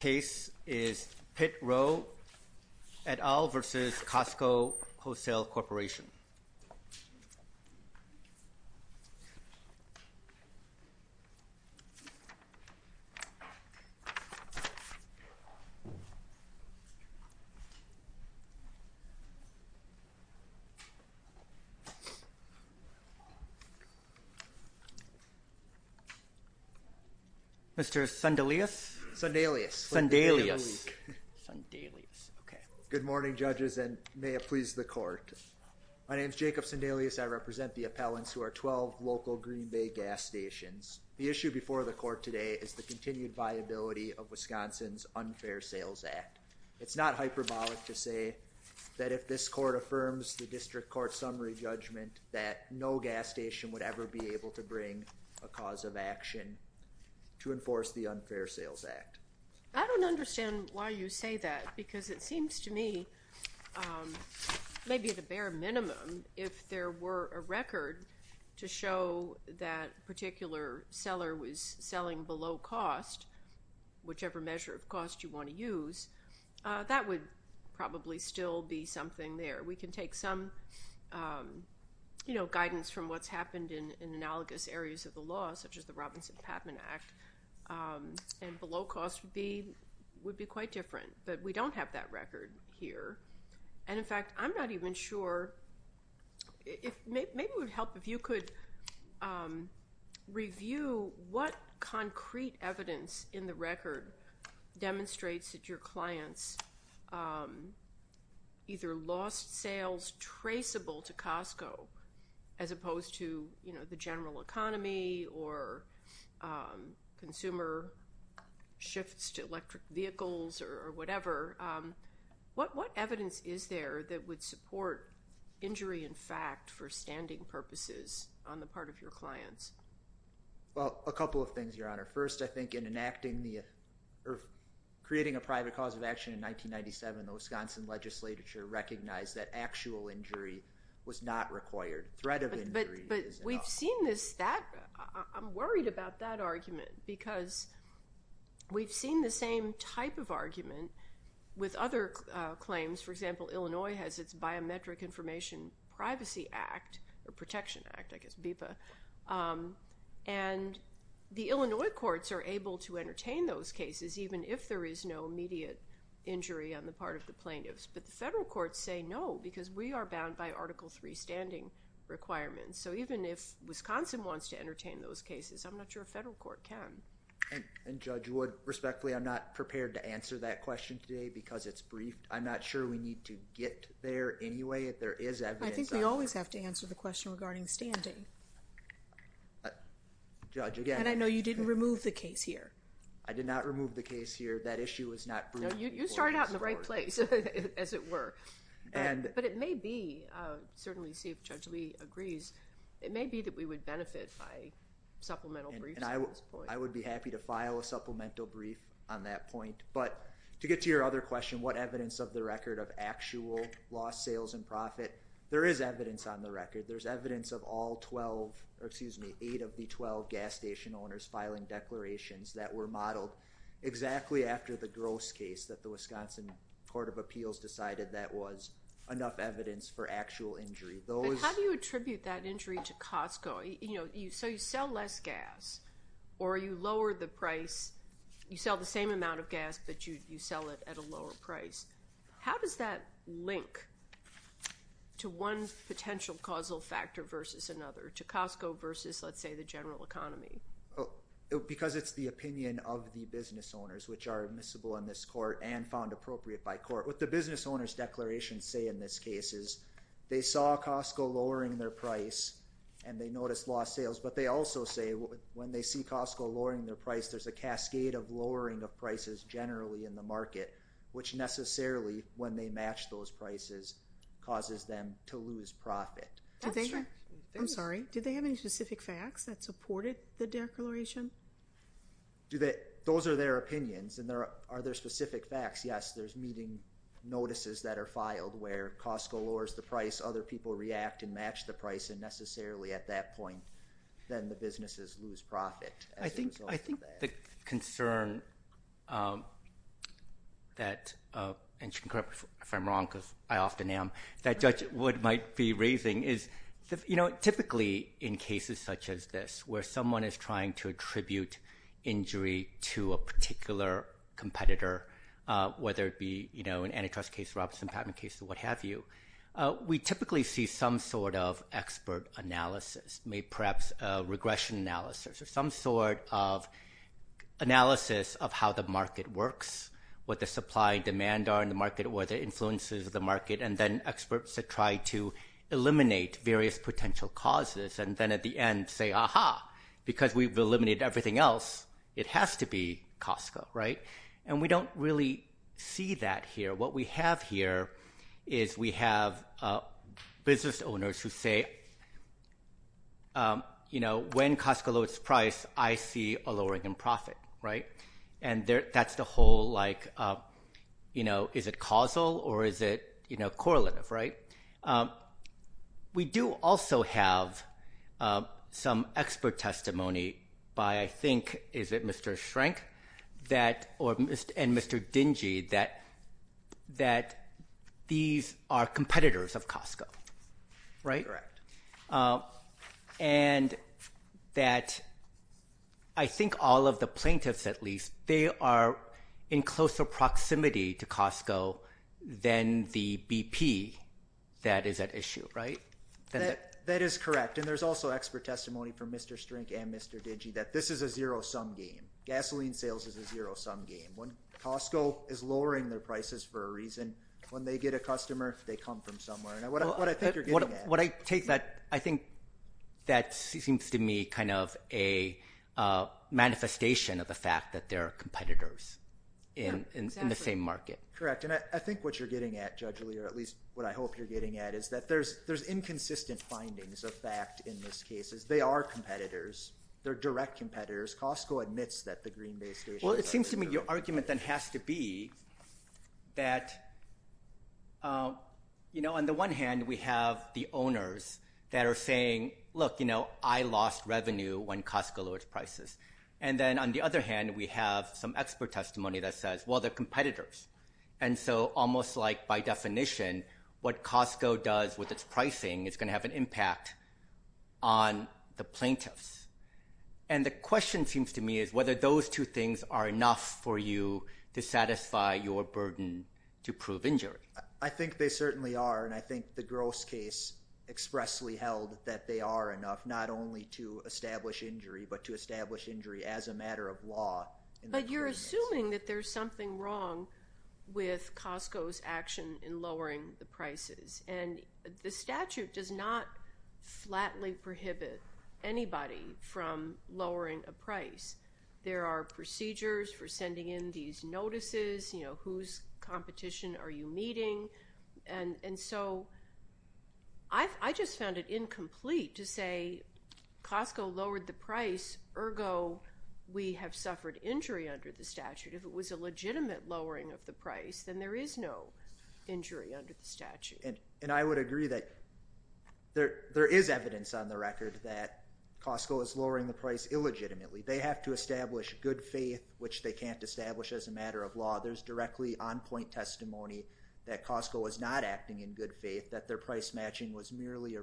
Case is Pitt-Roe et al. versus Costco Wholesale Corporation. Mr. Sandelius? Sandelius. Good morning judges and may it please the court. My name is Jacob Sandelius. I represent the appellants who are 12 local Green Bay gas stations. The issue before the court today is the continued viability of Wisconsin's Unfair Sales Act. It's not hyperbolic to say that if this court affirms the district court summary judgment that no gas station would ever be able to bring a cause of action to enforce the Unfair Sales Act. I don't understand why you say that because it seems to me maybe at a bare minimum if there were a record to show that a particular seller was selling below cost, whichever measure of cost you want to use, that would probably still be something there. We can take some guidance from what's happened in analogous areas of the law such as the Patman Act and below cost would be quite different, but we don't have that record here. And in fact, I'm not even sure if maybe it would help if you could review what concrete evidence in the record demonstrates that your clients either lost sales traceable to Costco as opposed to the general economy or consumer shifts to electric vehicles or whatever. What evidence is there that would support injury in fact for standing purposes on the part of your clients? Well, a couple of things, Your Honor. First, I think in enacting or creating a private cause of action in 1997, the Wisconsin legislature recognized that actual injury was not required. But we've seen this, I'm worried about that argument because we've seen the same type of argument with other claims. For example, Illinois has its Biometric Information Privacy Act or Protection Act, I guess BIPA, and the Illinois courts are able to entertain those cases even if there is no immediate injury on the part of the plaintiffs. But the federal courts say no because we are bound by Article III standing requirements. So even if Wisconsin wants to entertain those cases, I'm not sure a federal court can. And Judge Wood, respectfully, I'm not prepared to answer that question today because it's brief. I'm not sure we need to get there anyway if there is evidence out there. I think we always have to answer the question regarding standing. And I know you didn't remove the case here. I did not remove the case here. That issue is not brief. No, you started out in the right place, as it were. But it may be, certainly see if Judge Lee agrees, it may be that we would benefit by supplemental briefs at this point. I would be happy to file a supplemental brief on that point. But to get to your other question, what evidence of the record of actual lost sales and profit, there is evidence on the record. There's evidence of all 12, excuse me, eight of the 12 gas station owners filing declarations that were modeled exactly after the gross case that the Wisconsin Court of Appeals decided that was enough evidence for actual injury. But how do you attribute that injury to Costco? So you sell less gas or you lower the price. You sell the same amount of gas, but you sell it at a lower price. How does that link to one potential causal factor versus another, to Costco versus, let's say, the general economy? Because it's the opinion of the business owners, which are admissible in this court and found appropriate by court. What the business owners declarations say in this case is they saw Costco lowering their price and they noticed lost sales. But they also say when they see Costco lowering their price, there's a cascade of lowering of prices generally in the market, which necessarily, when they match those prices, causes them to lose profit. Do you have specific facts that supported the declaration? Those are their opinions. And are there specific facts? Yes, there's meeting notices that are filed where Costco lowers the price, other people react and match the price, and necessarily at that point, then the businesses lose profit. I think the concern that, and you can correct me if I'm wrong, because I often am, that Judge where someone is trying to attribute injury to a particular competitor, whether it be an antitrust case, Robson Patent case, or what have you, we typically see some sort of expert analysis, maybe perhaps regression analysis, or some sort of analysis of how the market works, what the supply and demand are in the market, or the influences of the market, and then experts that try to eliminate various potential causes, and then at the end say, aha, because we've eliminated everything else, it has to be Costco, right? And we don't really see that here. What we have here is we have business owners who say, when Costco lowers its price, I see a lowering in the market. We do also have some expert testimony by, I think, is it Mr. Schrenk, that, or, and Mr. Dingy, that these are competitors of Costco, right? And that I think all of the plaintiffs, at least, they are in closer proximity to Costco than the BP that is at issue, right? That is correct, and there's also expert testimony from Mr. Schrenk and Mr. Dingy that this is a zero-sum game. Gasoline sales is a zero-sum game. When Costco is lowering their prices for a reason, when they get a customer, they come from somewhere, and what I think you're getting at. What I take that, I think that seems to me kind of a manifestation of the fact that there are competitors in the same market. Correct, I think what you're getting at, Judge Lear, at least what I hope you're getting at, is that there's inconsistent findings of fact in this case. They are competitors. They're direct competitors. Costco admits that the Green Bay situation is unfair. Well, it seems to me your argument then has to be that on the one hand, we have the owners that are saying, look, I lost revenue when Costco lowered prices, and then on the other hand, we have some expert testimony that says, well, they're competitors, and so almost like by definition, what Costco does with its pricing is going to have an impact on the plaintiffs, and the question seems to me is whether those two things are enough for you to satisfy your burden to prove injury. I think they certainly are, and I think the gross case expressly held that they are enough, not only to establish injury, but to establish injury as a matter of law. But you're assuming that there's something wrong with Costco's action in lowering the prices, and the statute does not flatly prohibit anybody from lowering a price. There are procedures for sending in these notices, whose competition are you meeting, and so I just found it incomplete to say Costco lowered the price, ergo, we have suffered injury under the statute. If it was a legitimate lowering of the price, then there is no injury under the statute. And I would agree that there is evidence on the record that Costco is lowering the price illegitimately. They have to establish good faith, which they can't establish as a matter of law. There's directly on-point testimony that Costco is not acting in good faith, that their price matching was merely a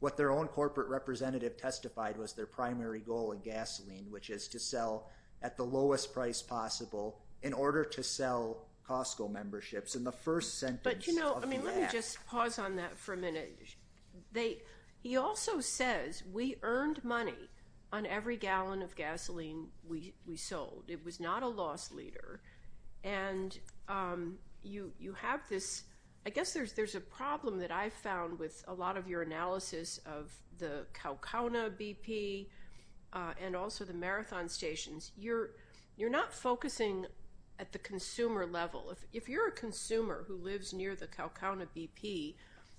what their own corporate representative testified was their primary goal in gasoline, which is to sell at the lowest price possible in order to sell Costco memberships in the first sentence. But you know, I mean, let me just pause on that for a minute. He also says we earned money on every gallon of gasoline we sold. It was not a loss leader. And you have this, I guess there's a problem that I've found with a lot of your analysis of the Kaukauna BP and also the marathon stations. You're not focusing at the consumer level. If you're a consumer who lives near the Kaukauna BP,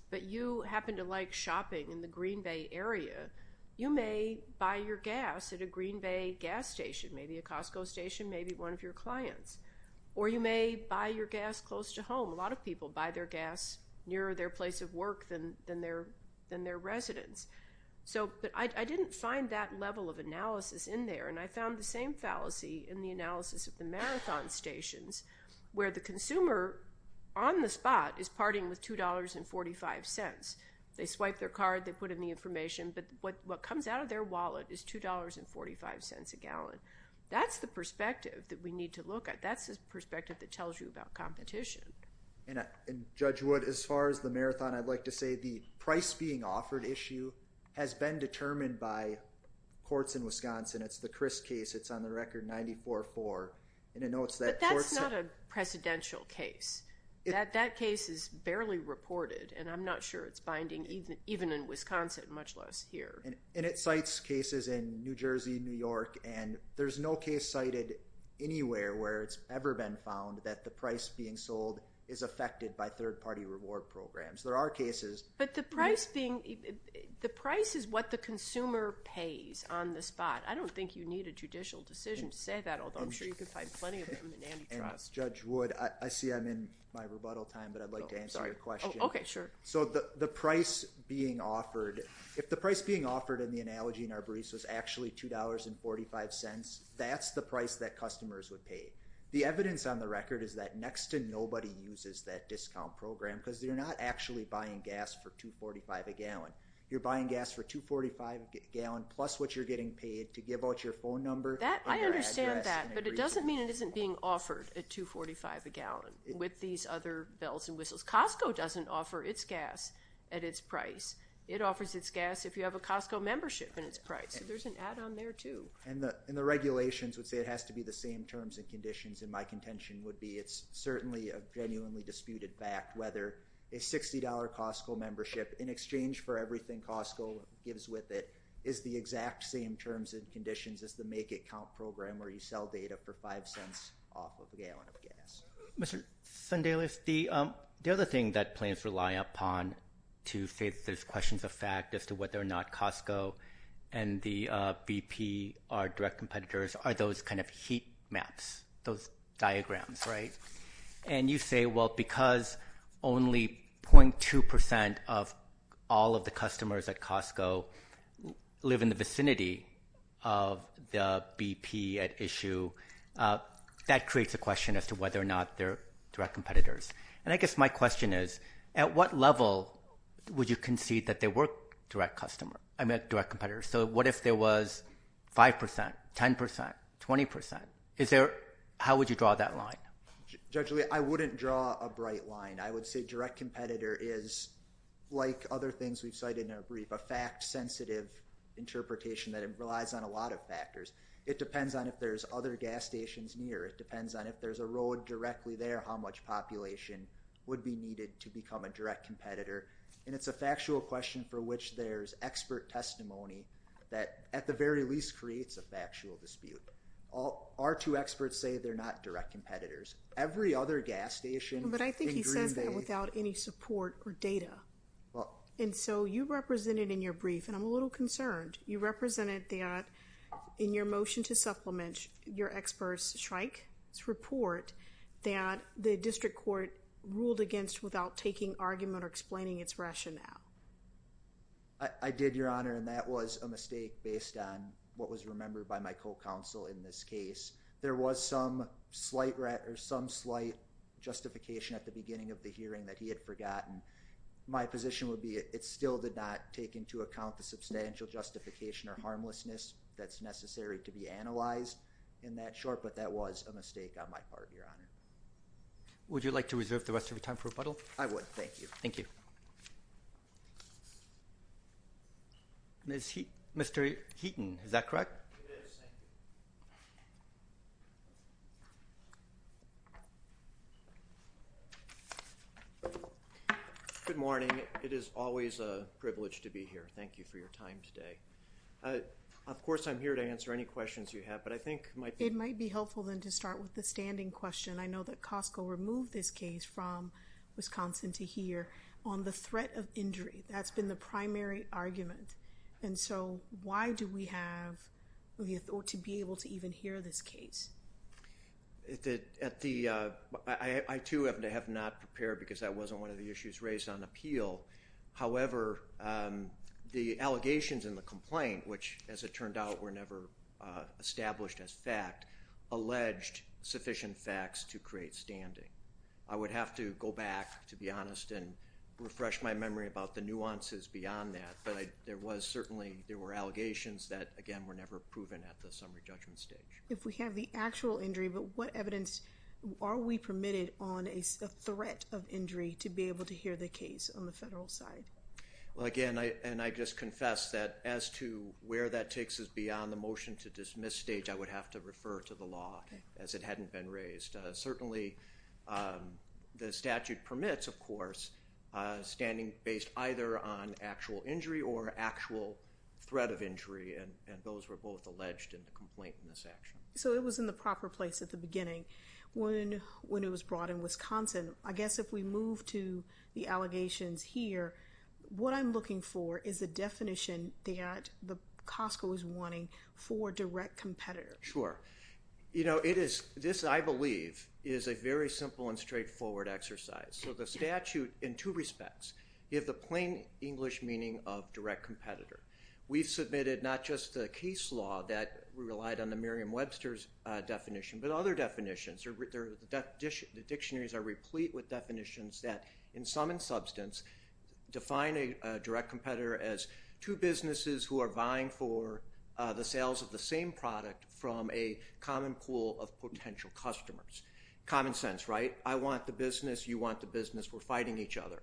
but you happen to like shopping in the Green Bay area, you may buy your gas at a Green Bay gas station, maybe a Costco station, maybe one of your clients. Or you may buy your gas near their place of work than their residents. So I didn't find that level of analysis in there. And I found the same fallacy in the analysis of the marathon stations, where the consumer on the spot is parting with $2.45. They swipe their card, they put in the information, but what comes out of their wallet is $2.45 a gallon. That's the perspective that we need to look at. That's the As far as the marathon, I'd like to say the price being offered issue has been determined by courts in Wisconsin. It's the Chris case. It's on the record 94-4. But that's not a presidential case. That case is barely reported, and I'm not sure it's binding even in Wisconsin, much less here. And it cites cases in New Jersey, New York, and there's no case cited anywhere where it's ever been found that the price being sold is affected by third-party reward programs. There are cases. But the price being, the price is what the consumer pays on the spot. I don't think you need a judicial decision to say that, although I'm sure you can find plenty of them in antitrust. Judge Wood, I see I'm in my rebuttal time, but I'd like to answer your question. Okay, sure. So the price being offered, if the price being offered in the analogy in Arborece was actually $2.45, that's the price that customers would pay. The evidence on the record is that next to nobody uses that discount program, because you're not actually buying gas for $2.45 a gallon. You're buying gas for $2.45 a gallon plus what you're getting paid to give out your phone number. I understand that, but it doesn't mean it isn't being offered at $2.45 a gallon with these other bells and whistles. Costco doesn't offer its gas at its price. It offers its gas if you have a Costco membership in its price. So there's an add-on there too. And the regulations would say it has to be the same terms and conditions, and my contention would be it's certainly a genuinely disputed fact whether a $60 Costco membership, in exchange for everything Costco gives with it, is the exact same terms and conditions as the make-it-count program where you sell data for $0.05 off of a gallon of gas. Mr. Sundelis, the other thing that plans rely upon to say that there's questions of fact as to whether or not Costco and the BP are direct competitors are those kind of heat maps, those diagrams, right? And you say, well, because only 0.2% of all of the customers at Costco live in the vicinity of the BP at issue, that creates a question as to whether or not they're direct competitors. And I guess my question is, at what level would you concede that they were direct competitors? So what if there was 5%, 10%, 20%? Is there how would you draw that line? Judge Lee, I wouldn't draw a bright line. I would say direct competitor is, like other things we've cited in a brief, a fact-sensitive interpretation that relies on a lot of factors. It depends on if there's other gas stations near. It depends on if there's a road directly there, how much population would be needed to become a direct competitor. And it's a factual question for which there's expert testimony that at the experts say they're not direct competitors. Every other gas station. But I think he says that without any support or data. And so you represented in your brief, and I'm a little concerned, you represented that in your motion to supplement your experts strike this report that the district court ruled against without taking argument or explaining its rationale. I did, Your Honor, and that was a mistake based on what was remembered by my counsel in this case. There was some slight justification at the beginning of the hearing that he had forgotten. My position would be it still did not take into account the substantial justification or harmlessness that's necessary to be analyzed in that short, but that was a mistake on my part, Your Honor. Would you like to reserve the rest of your time for rebuttal? I would. Thank you. Mr. Heaton, is that correct? Good morning. It is always a privilege to be here. Thank you for your time today. Of course, I'm here to answer any questions you have, but I think it might be helpful than to start with the standing question. I know that Costco removed this case from Wisconsin to hear on the threat of injury. That's been the primary argument, and so why do we have to be able to even hear this case? I too have not prepared because that wasn't one of the issues raised on appeal. However, the allegations in the complaint, which as it turned out were never established as fact, alleged sufficient facts to create standing. I would have to go back, to be honest, and refresh my memory about the nuances beyond that, but there was certainly there were allegations that, again, were never proven at the summary judgment stage. If we have the actual injury, but what evidence are we permitted on a threat of injury to be able to hear the case on the federal side? Well, again, and I just confess that as to where that takes us beyond the motion to dismiss stage, I would have to refer to the law as it hadn't been raised. Certainly, the statute permits, of course, standing based either on actual injury or actual threat of injury, and those were both alleged in the complaint in this action. So it was in the proper place at the beginning when it was brought in Wisconsin. I guess if we for direct competitor. Sure. This, I believe, is a very simple and straightforward exercise. So the statute in two respects. You have the plain English meaning of direct competitor. We've submitted not just the case law that we relied on the Merriam-Webster's definition, but other definitions. The dictionaries are replete with definitions that in sum and substance define a direct competitor as two businesses who are buying for the sales of the same product from a common pool of potential customers. Common sense, right? I want the business. You want the business. We're fighting each other.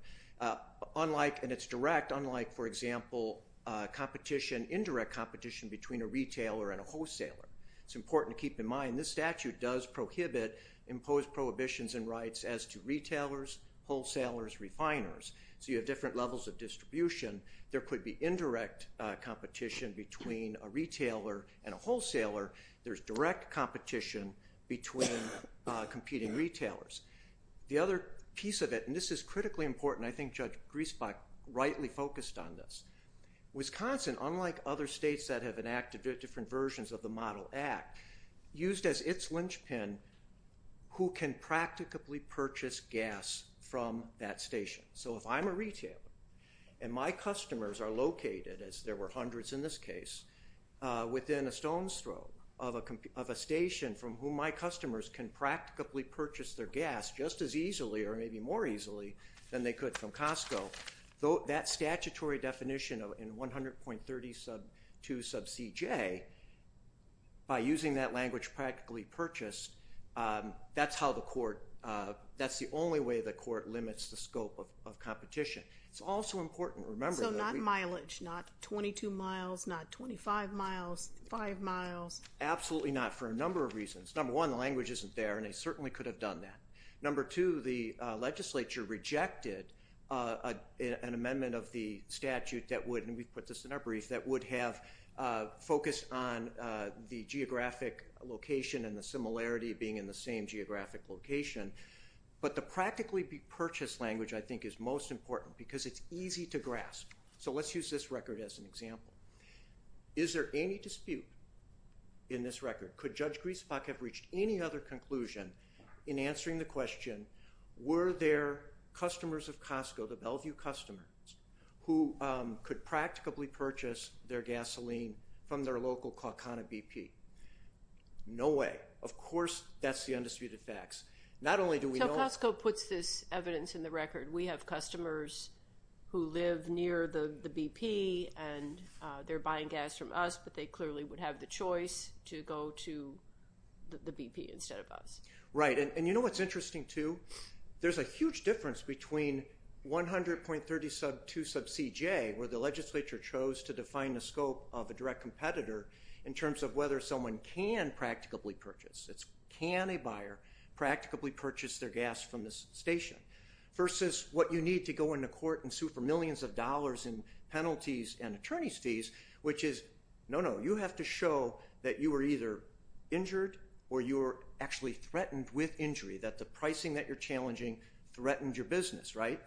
Unlike, and it's direct, unlike, for example, competition, indirect competition between a retailer and a wholesaler. It's important to keep in mind this statute does prohibit imposed prohibitions and rights as to retailers, wholesalers, refiners, different levels of distribution. There could be indirect competition between a retailer and a wholesaler. There's direct competition between competing retailers. The other piece of it, and this is critically important, I think Judge Griesbach rightly focused on this. Wisconsin, unlike other states that have enacted different versions of the Model Act, used as its linchpin who can practicably purchase gas from that station. So if I'm a retailer and my customers are located, as there were hundreds in this case, within a stone's throw of a station from whom my customers can practicably purchase their gas just as easily or maybe more easily than they could from Costco, that statutory definition in 100.32 sub CJ, by using that language, practically purchase, that's how the court, that's the only way the court limits the scope of competition. It's also important to remember- So not mileage, not 22 miles, not 25 miles, five miles. Absolutely not, for a number of reasons. Number one, the language isn't there, and they certainly could have done that. Number two, the legislature rejected an amendment of the statute that would, and we put this in our brief, that would have focused on the geographic location and the similarity of being in the same geographic location. But the practically purchased language, I think, is most important because it's easy to grasp. So let's use this record as an example. Is there any dispute in this record? Could Judge Griesbach have reached any other conclusion in answering the question, were there customers of from their local Kaukana BP? No way. Of course, that's the undisputed facts. Not only do we know- So Costco puts this evidence in the record. We have customers who live near the BP, and they're buying gas from us, but they clearly would have the choice to go to the BP instead of us. Right, and you know what's interesting too? There's a huge difference between 100.32 sub CJ, where the legislature chose to define the scope of a direct competitor in terms of whether someone can practically purchase. Can a buyer practically purchase their gas from this station versus what you need to go into court and sue for millions of dollars in penalties and attorney's fees, which is, no, no, you have to show that you were either injured or you were actually threatened with injury, that the pricing that you're challenging threatened your business, right?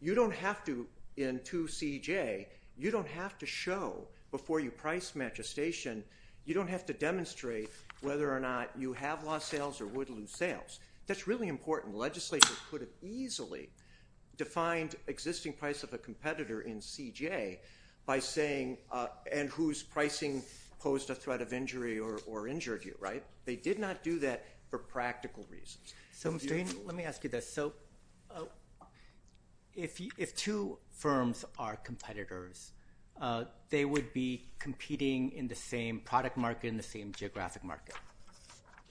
You don't have to, in 2 CJ, you don't have to show before you price match a station, you don't have to demonstrate whether or not you have lost sales or would lose sales. That's really important. Legislature could have easily defined existing price of a competitor in CJ by saying, and whose pricing posed a threat of injury or injured you, right? They did not do that for practical reasons. So, Shane, let me ask you this. So, if two firms are competitors, they would be competing in the same product market, in the same geographic market.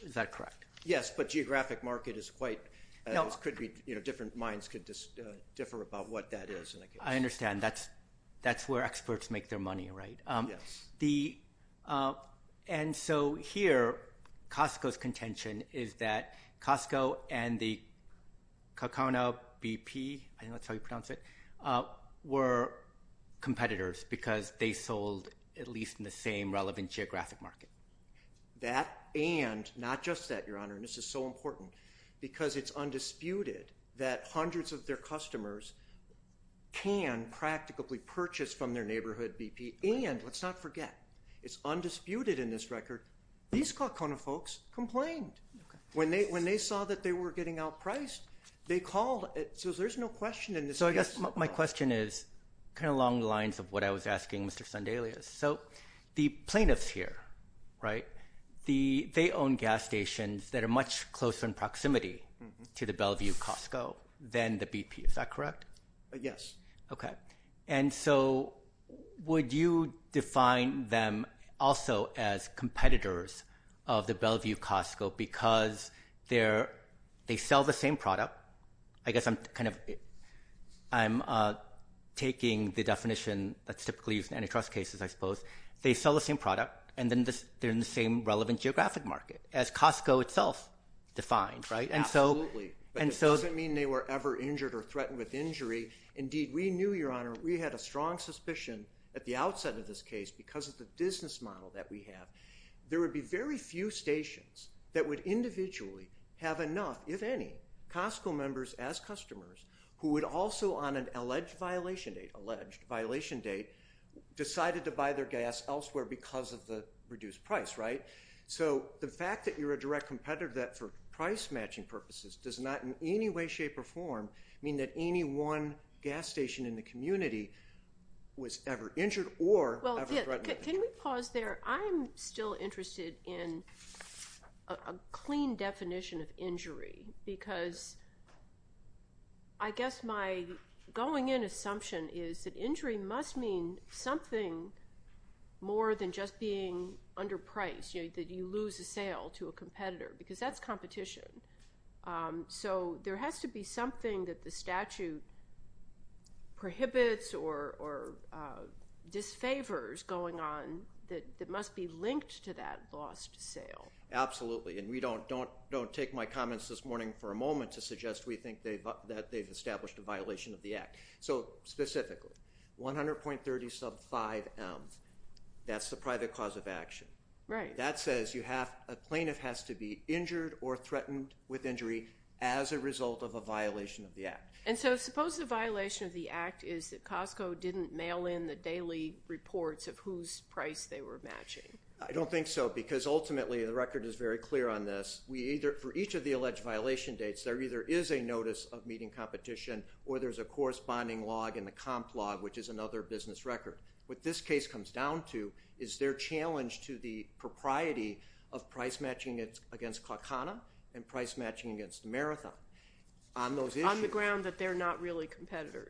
Is that correct? Yes, but geographic market is quite, different minds could differ about what that is. I understand, that's where experts make their money, right? Yes. And so, here, Costco's contention is that Costco and the Cocona BP, I think that's how you pronounce it, were competitors because they sold at least in the same relevant geographic market. That and, not just that, your honor, and this is so important, because it's undisputed that hundreds of their customers can practically purchase from their BP. And let's not forget, it's undisputed in this record, these Cocona folks complained. When they saw that they were getting outpriced, they called. So, there's no question in this case. So, I guess my question is kind of along the lines of what I was asking Mr. Sandelius. So, the plaintiffs here, right, they own gas stations that are much closer in proximity to the Bellevue Costco than the BP. Is that correct? Yes. Okay. And so, would you define them also as competitors of the Bellevue Costco because they sell the same product? I guess I'm kind of, I'm taking the definition that's typically used in antitrust cases, I suppose. They sell the same product and then they're in the same relevant geographic market as Costco itself defined, right? Absolutely. And so, it doesn't mean they were ever injured or threatened with injury. Indeed, we knew, Your Honor, we had a strong suspicion at the outset of this case because of the business model that we have. There would be very few stations that would individually have enough, if any, Costco members as customers who would also on an alleged violation date, alleged violation date, decided to buy their gas elsewhere because of the reduced price, right? So, the fact that you're a direct competitor of that for price matching purposes does not in any way, shape, or form mean that any one gas station in the community was ever injured or ever threatened. Can we pause there? I'm still interested in a clean definition of injury because I guess my going in assumption is that injury must mean something more than just being underpriced, that you lose a sale to a competitor because that's competition. So, there has to be something that the statute prohibits or disfavors going on that must be linked to that lost sale. Absolutely. And don't take my comments this morning for a moment to suggest we think that they've established a violation of the act. So, specifically, 100.30 sub 5M, that's the private cause of action. That says a plaintiff has to be injured or threatened with injury as a result of a violation of the act. And so, suppose the violation of the act is that Costco didn't mail in the daily reports of whose price they were matching. I don't think so because ultimately the record is very clear on this. For each of the alleged violation dates, there either is a notice of meeting competition or there's a comp log, which is another business record. What this case comes down to is their challenge to the propriety of price matching against Calcana and price matching against Marathon on those issues. On the ground that they're not really competitors.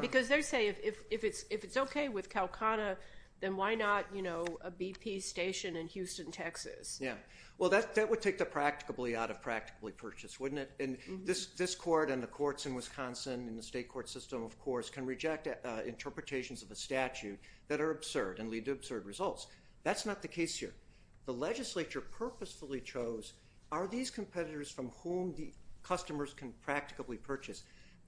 Because they say if it's okay with Calcana, then why not a BP station in Houston, Texas? Yeah. Well, that would take the practicably out of practically purchased, wouldn't it? This court and the courts in Wisconsin and the state court system, of course, can reject interpretations of a statute that are absurd and lead to absurd results. That's not the case here. The legislature purposefully chose, are these competitors from whom the customers can practically purchase?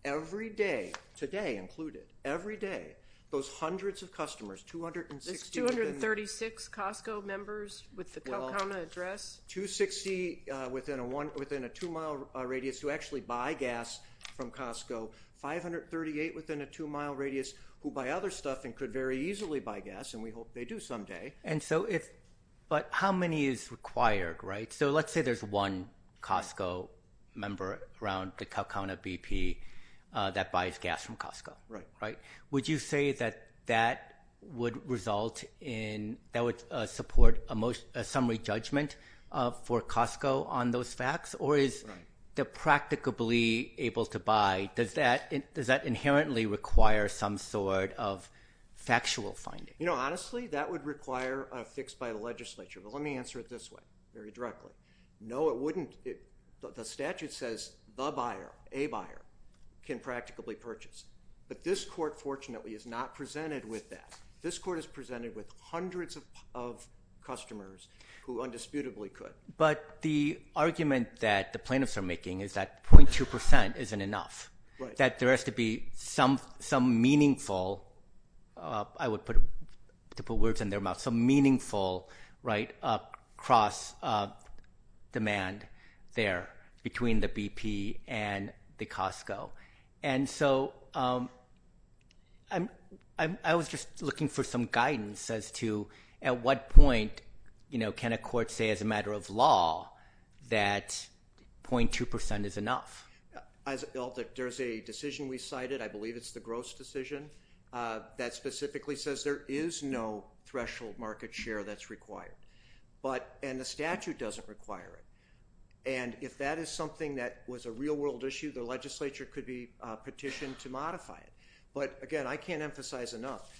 Every day, today included, every day, those hundreds of customers, 260- 236 Costco members with the Calcana address? 260 within a two-mile radius who actually buy gas from Costco. 538 within a two-mile radius who buy other stuff and could very easily buy gas, and we hope they do someday. How many is required? Let's say there's one Costco member around the Calcana BP that buys gas from Costco. Would you say that that would support a summary judgment for Costco on those facts, or is the practicably able to buy, does that inherently require some sort of factual finding? Honestly, that would require a fix by the legislature, but let me answer it this way very directly. No, it wouldn't. The statute says the buyer, a buyer can practically purchase, but this court fortunately is not presented with that. This court is presented with hundreds of customers who undisputably could. But the argument that the plaintiffs are making is that 0.2% isn't enough, that there has to be some meaningful, I would put, to put words in their mouth, some meaningful right across demand there between the BP and the Costco. And so I was just looking for some guidance as to at what point can a court say as a matter of law that 0.2% is enough? There's a decision we cited, I believe it's the Gross decision, that specifically says there is no threshold market share that's required, and the statute doesn't require it. And if that is something that was a real world issue, the legislature could be petitioned to modify it. But again, I can't emphasize enough,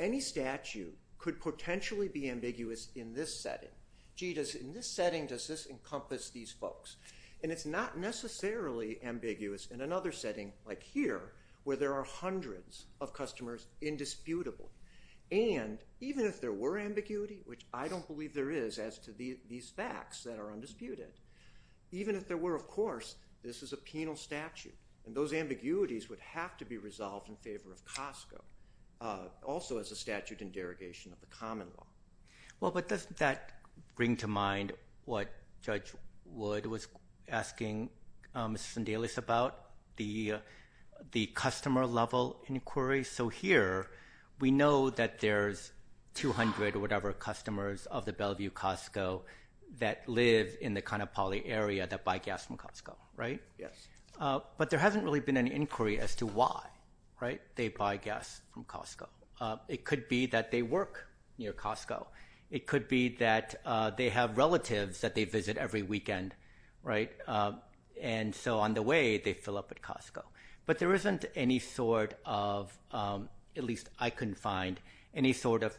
any statute could potentially be ambiguous in this setting. Gee, in this setting, does this encompass these folks? And it's not necessarily ambiguous in another setting like here, where there are hundreds of customers indisputable. And even if there were ambiguity, which I don't believe there is as to these facts that are undisputed, even if there were, of course, this is a penal statute. And those ambiguities would have to be resolved in favor of Costco, also as a statute in derogation of the common law. Well, but doesn't that bring to mind what Judge Wood was asking Mrs. Sandelis about, the customer level inquiry? So here, we know that there's 200 or whatever customers of the Bellevue Costco that live in the kind of poly area that buy gas from Costco, right? Yes. But there hasn't really been any inquiry as to why, right, they buy gas from Costco. It could be that they work near Costco. It could be that they have relatives that they visit every weekend, right? And so on the way, they fill up at Costco. But there isn't any sort of, at least I couldn't find, any sort of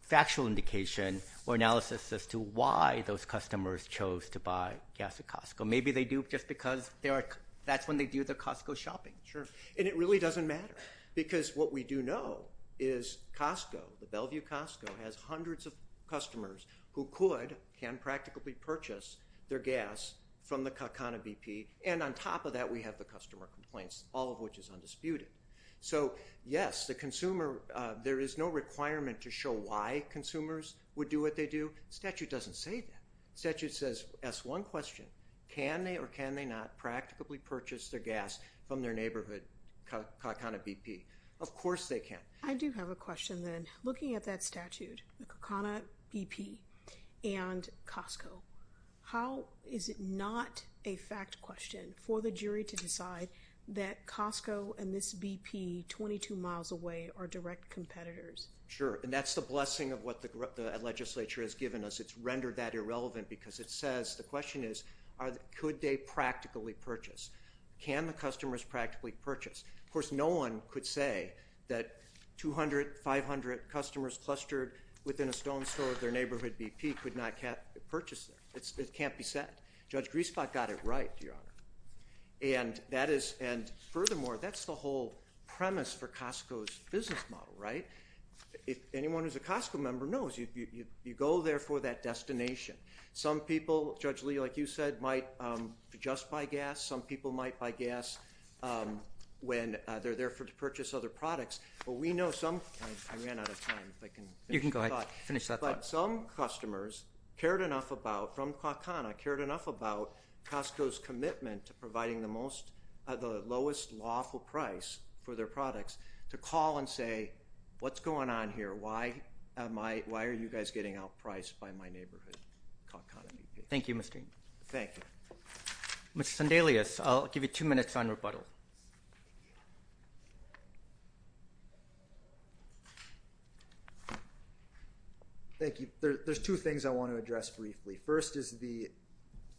factual indication or analysis as to why those customers chose to buy gas at Costco. Maybe they do just because that's when they do their Costco shopping. And it really doesn't matter. Because what we do know is Costco, the Bellevue Costco, has hundreds of customers who could, can practically purchase their gas from the CACANA BP. And on top of that, we have the customer complaints, all of which is undisputed. So yes, the consumer, there is no requirement to show why consumers would do what they do. Statute doesn't say that. Statute says, ask one question, can they or can they not practically purchase their gas from their neighborhood CACANA BP? Of course they can. I do have a question then. Looking at that statute, the CACANA BP and Costco, how, is it not a fact question for the jury to decide that Costco and this BP, 22 miles away, are direct competitors? Sure. And that's the blessing of what the legislature has given us. It's rendered that can the customers practically purchase? Of course, no one could say that 200, 500 customers clustered within a stone's throw of their neighborhood BP could not purchase it. It can't be said. Judge Griswold got it right, Your Honor. And that is, and furthermore, that's the whole premise for Costco's business model, right? If anyone who's a Costco member knows, you go there for that destination. Some people, Judge Lee, like you said, might just buy gas. Some people might buy gas when they're there to purchase other products. But we know some, I ran out of time. You can go ahead, finish that thought. But some customers cared enough about, from CACANA, cared enough about Costco's commitment to providing the most, the lowest lawful price for their products to call and say, what's going on here? Why am I, why are you guys getting outpriced by my neighborhood? Thank you, Mr. Thank you. Mr. Sandelius, I'll give you two minutes on rebuttal. Thank you. There's two things I want to address briefly. First is the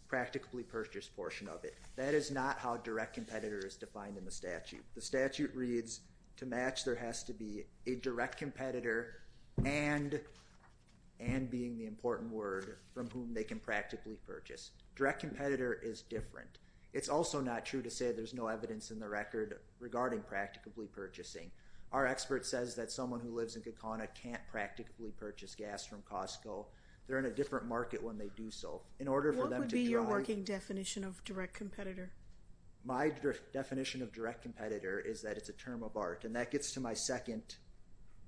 practically purchased portion of it. That is not how direct competitor is defined in the statute. The statute reads, to match there has to be a direct competitor and, and being the important word, from whom they can practically purchase. Direct competitor is different. It's also not true to say there's no evidence in the record regarding practically purchasing. Our expert says that someone who lives in CACANA can't practically purchase gas from Costco. They're in a different market when they do so. In order for them to draw- What would be your working definition of direct competitor is that it's a term of art, and that gets to my second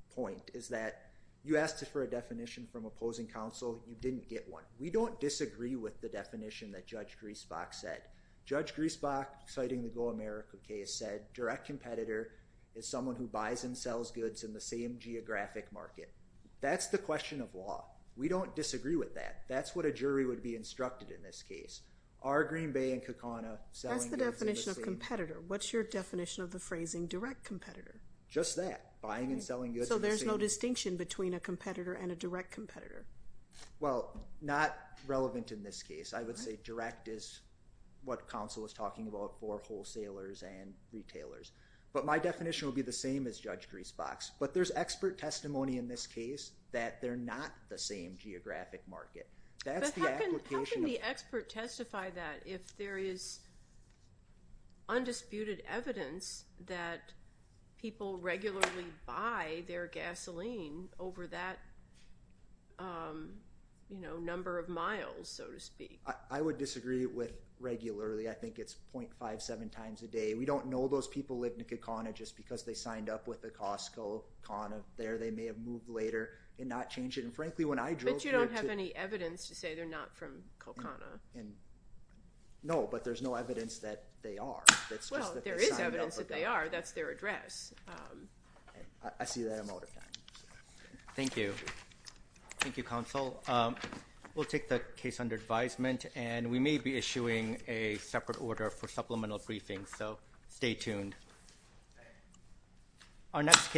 point, is that you asked for a definition from opposing counsel. You didn't get one. We don't disagree with the definition that Judge Griesbach said. Judge Griesbach, citing the Go America case, said direct competitor is someone who buys and sells goods in the same geographic market. That's the question of law. We don't disagree with that. That's what a jury would be instructed in this case. Are Green Bay and CACANA selling goods in the same- That's the definition of competitor. What's your definition of the phrasing direct competitor? Just that. Buying and selling goods in the same- So there's no distinction between a competitor and a direct competitor. Well, not relevant in this case. I would say direct is what counsel was talking about for wholesalers and retailers. But my definition would be the same as Judge Griesbach's. But there's expert testimony in this case that they're not the same geographic market. That's the application of- How can the expert testify that if there is undisputed evidence that people regularly buy their gasoline over that number of miles, so to speak? I would disagree with regularly. I think it's 0.57 times a day. We don't know those people live in CACANA just because they signed up with a Costco, CANA there. They may have moved and not changed it. And frankly, when I drove here- But you don't have any evidence to say they're not from CACANA. No, but there's no evidence that they are. That's just that- Well, there is evidence that they are. That's their address. I see that I'm out of time. Thank you. Thank you, counsel. We'll take the case under advisement and we may be issuing a separate order for supplemental briefings. So stay tuned. Our next case-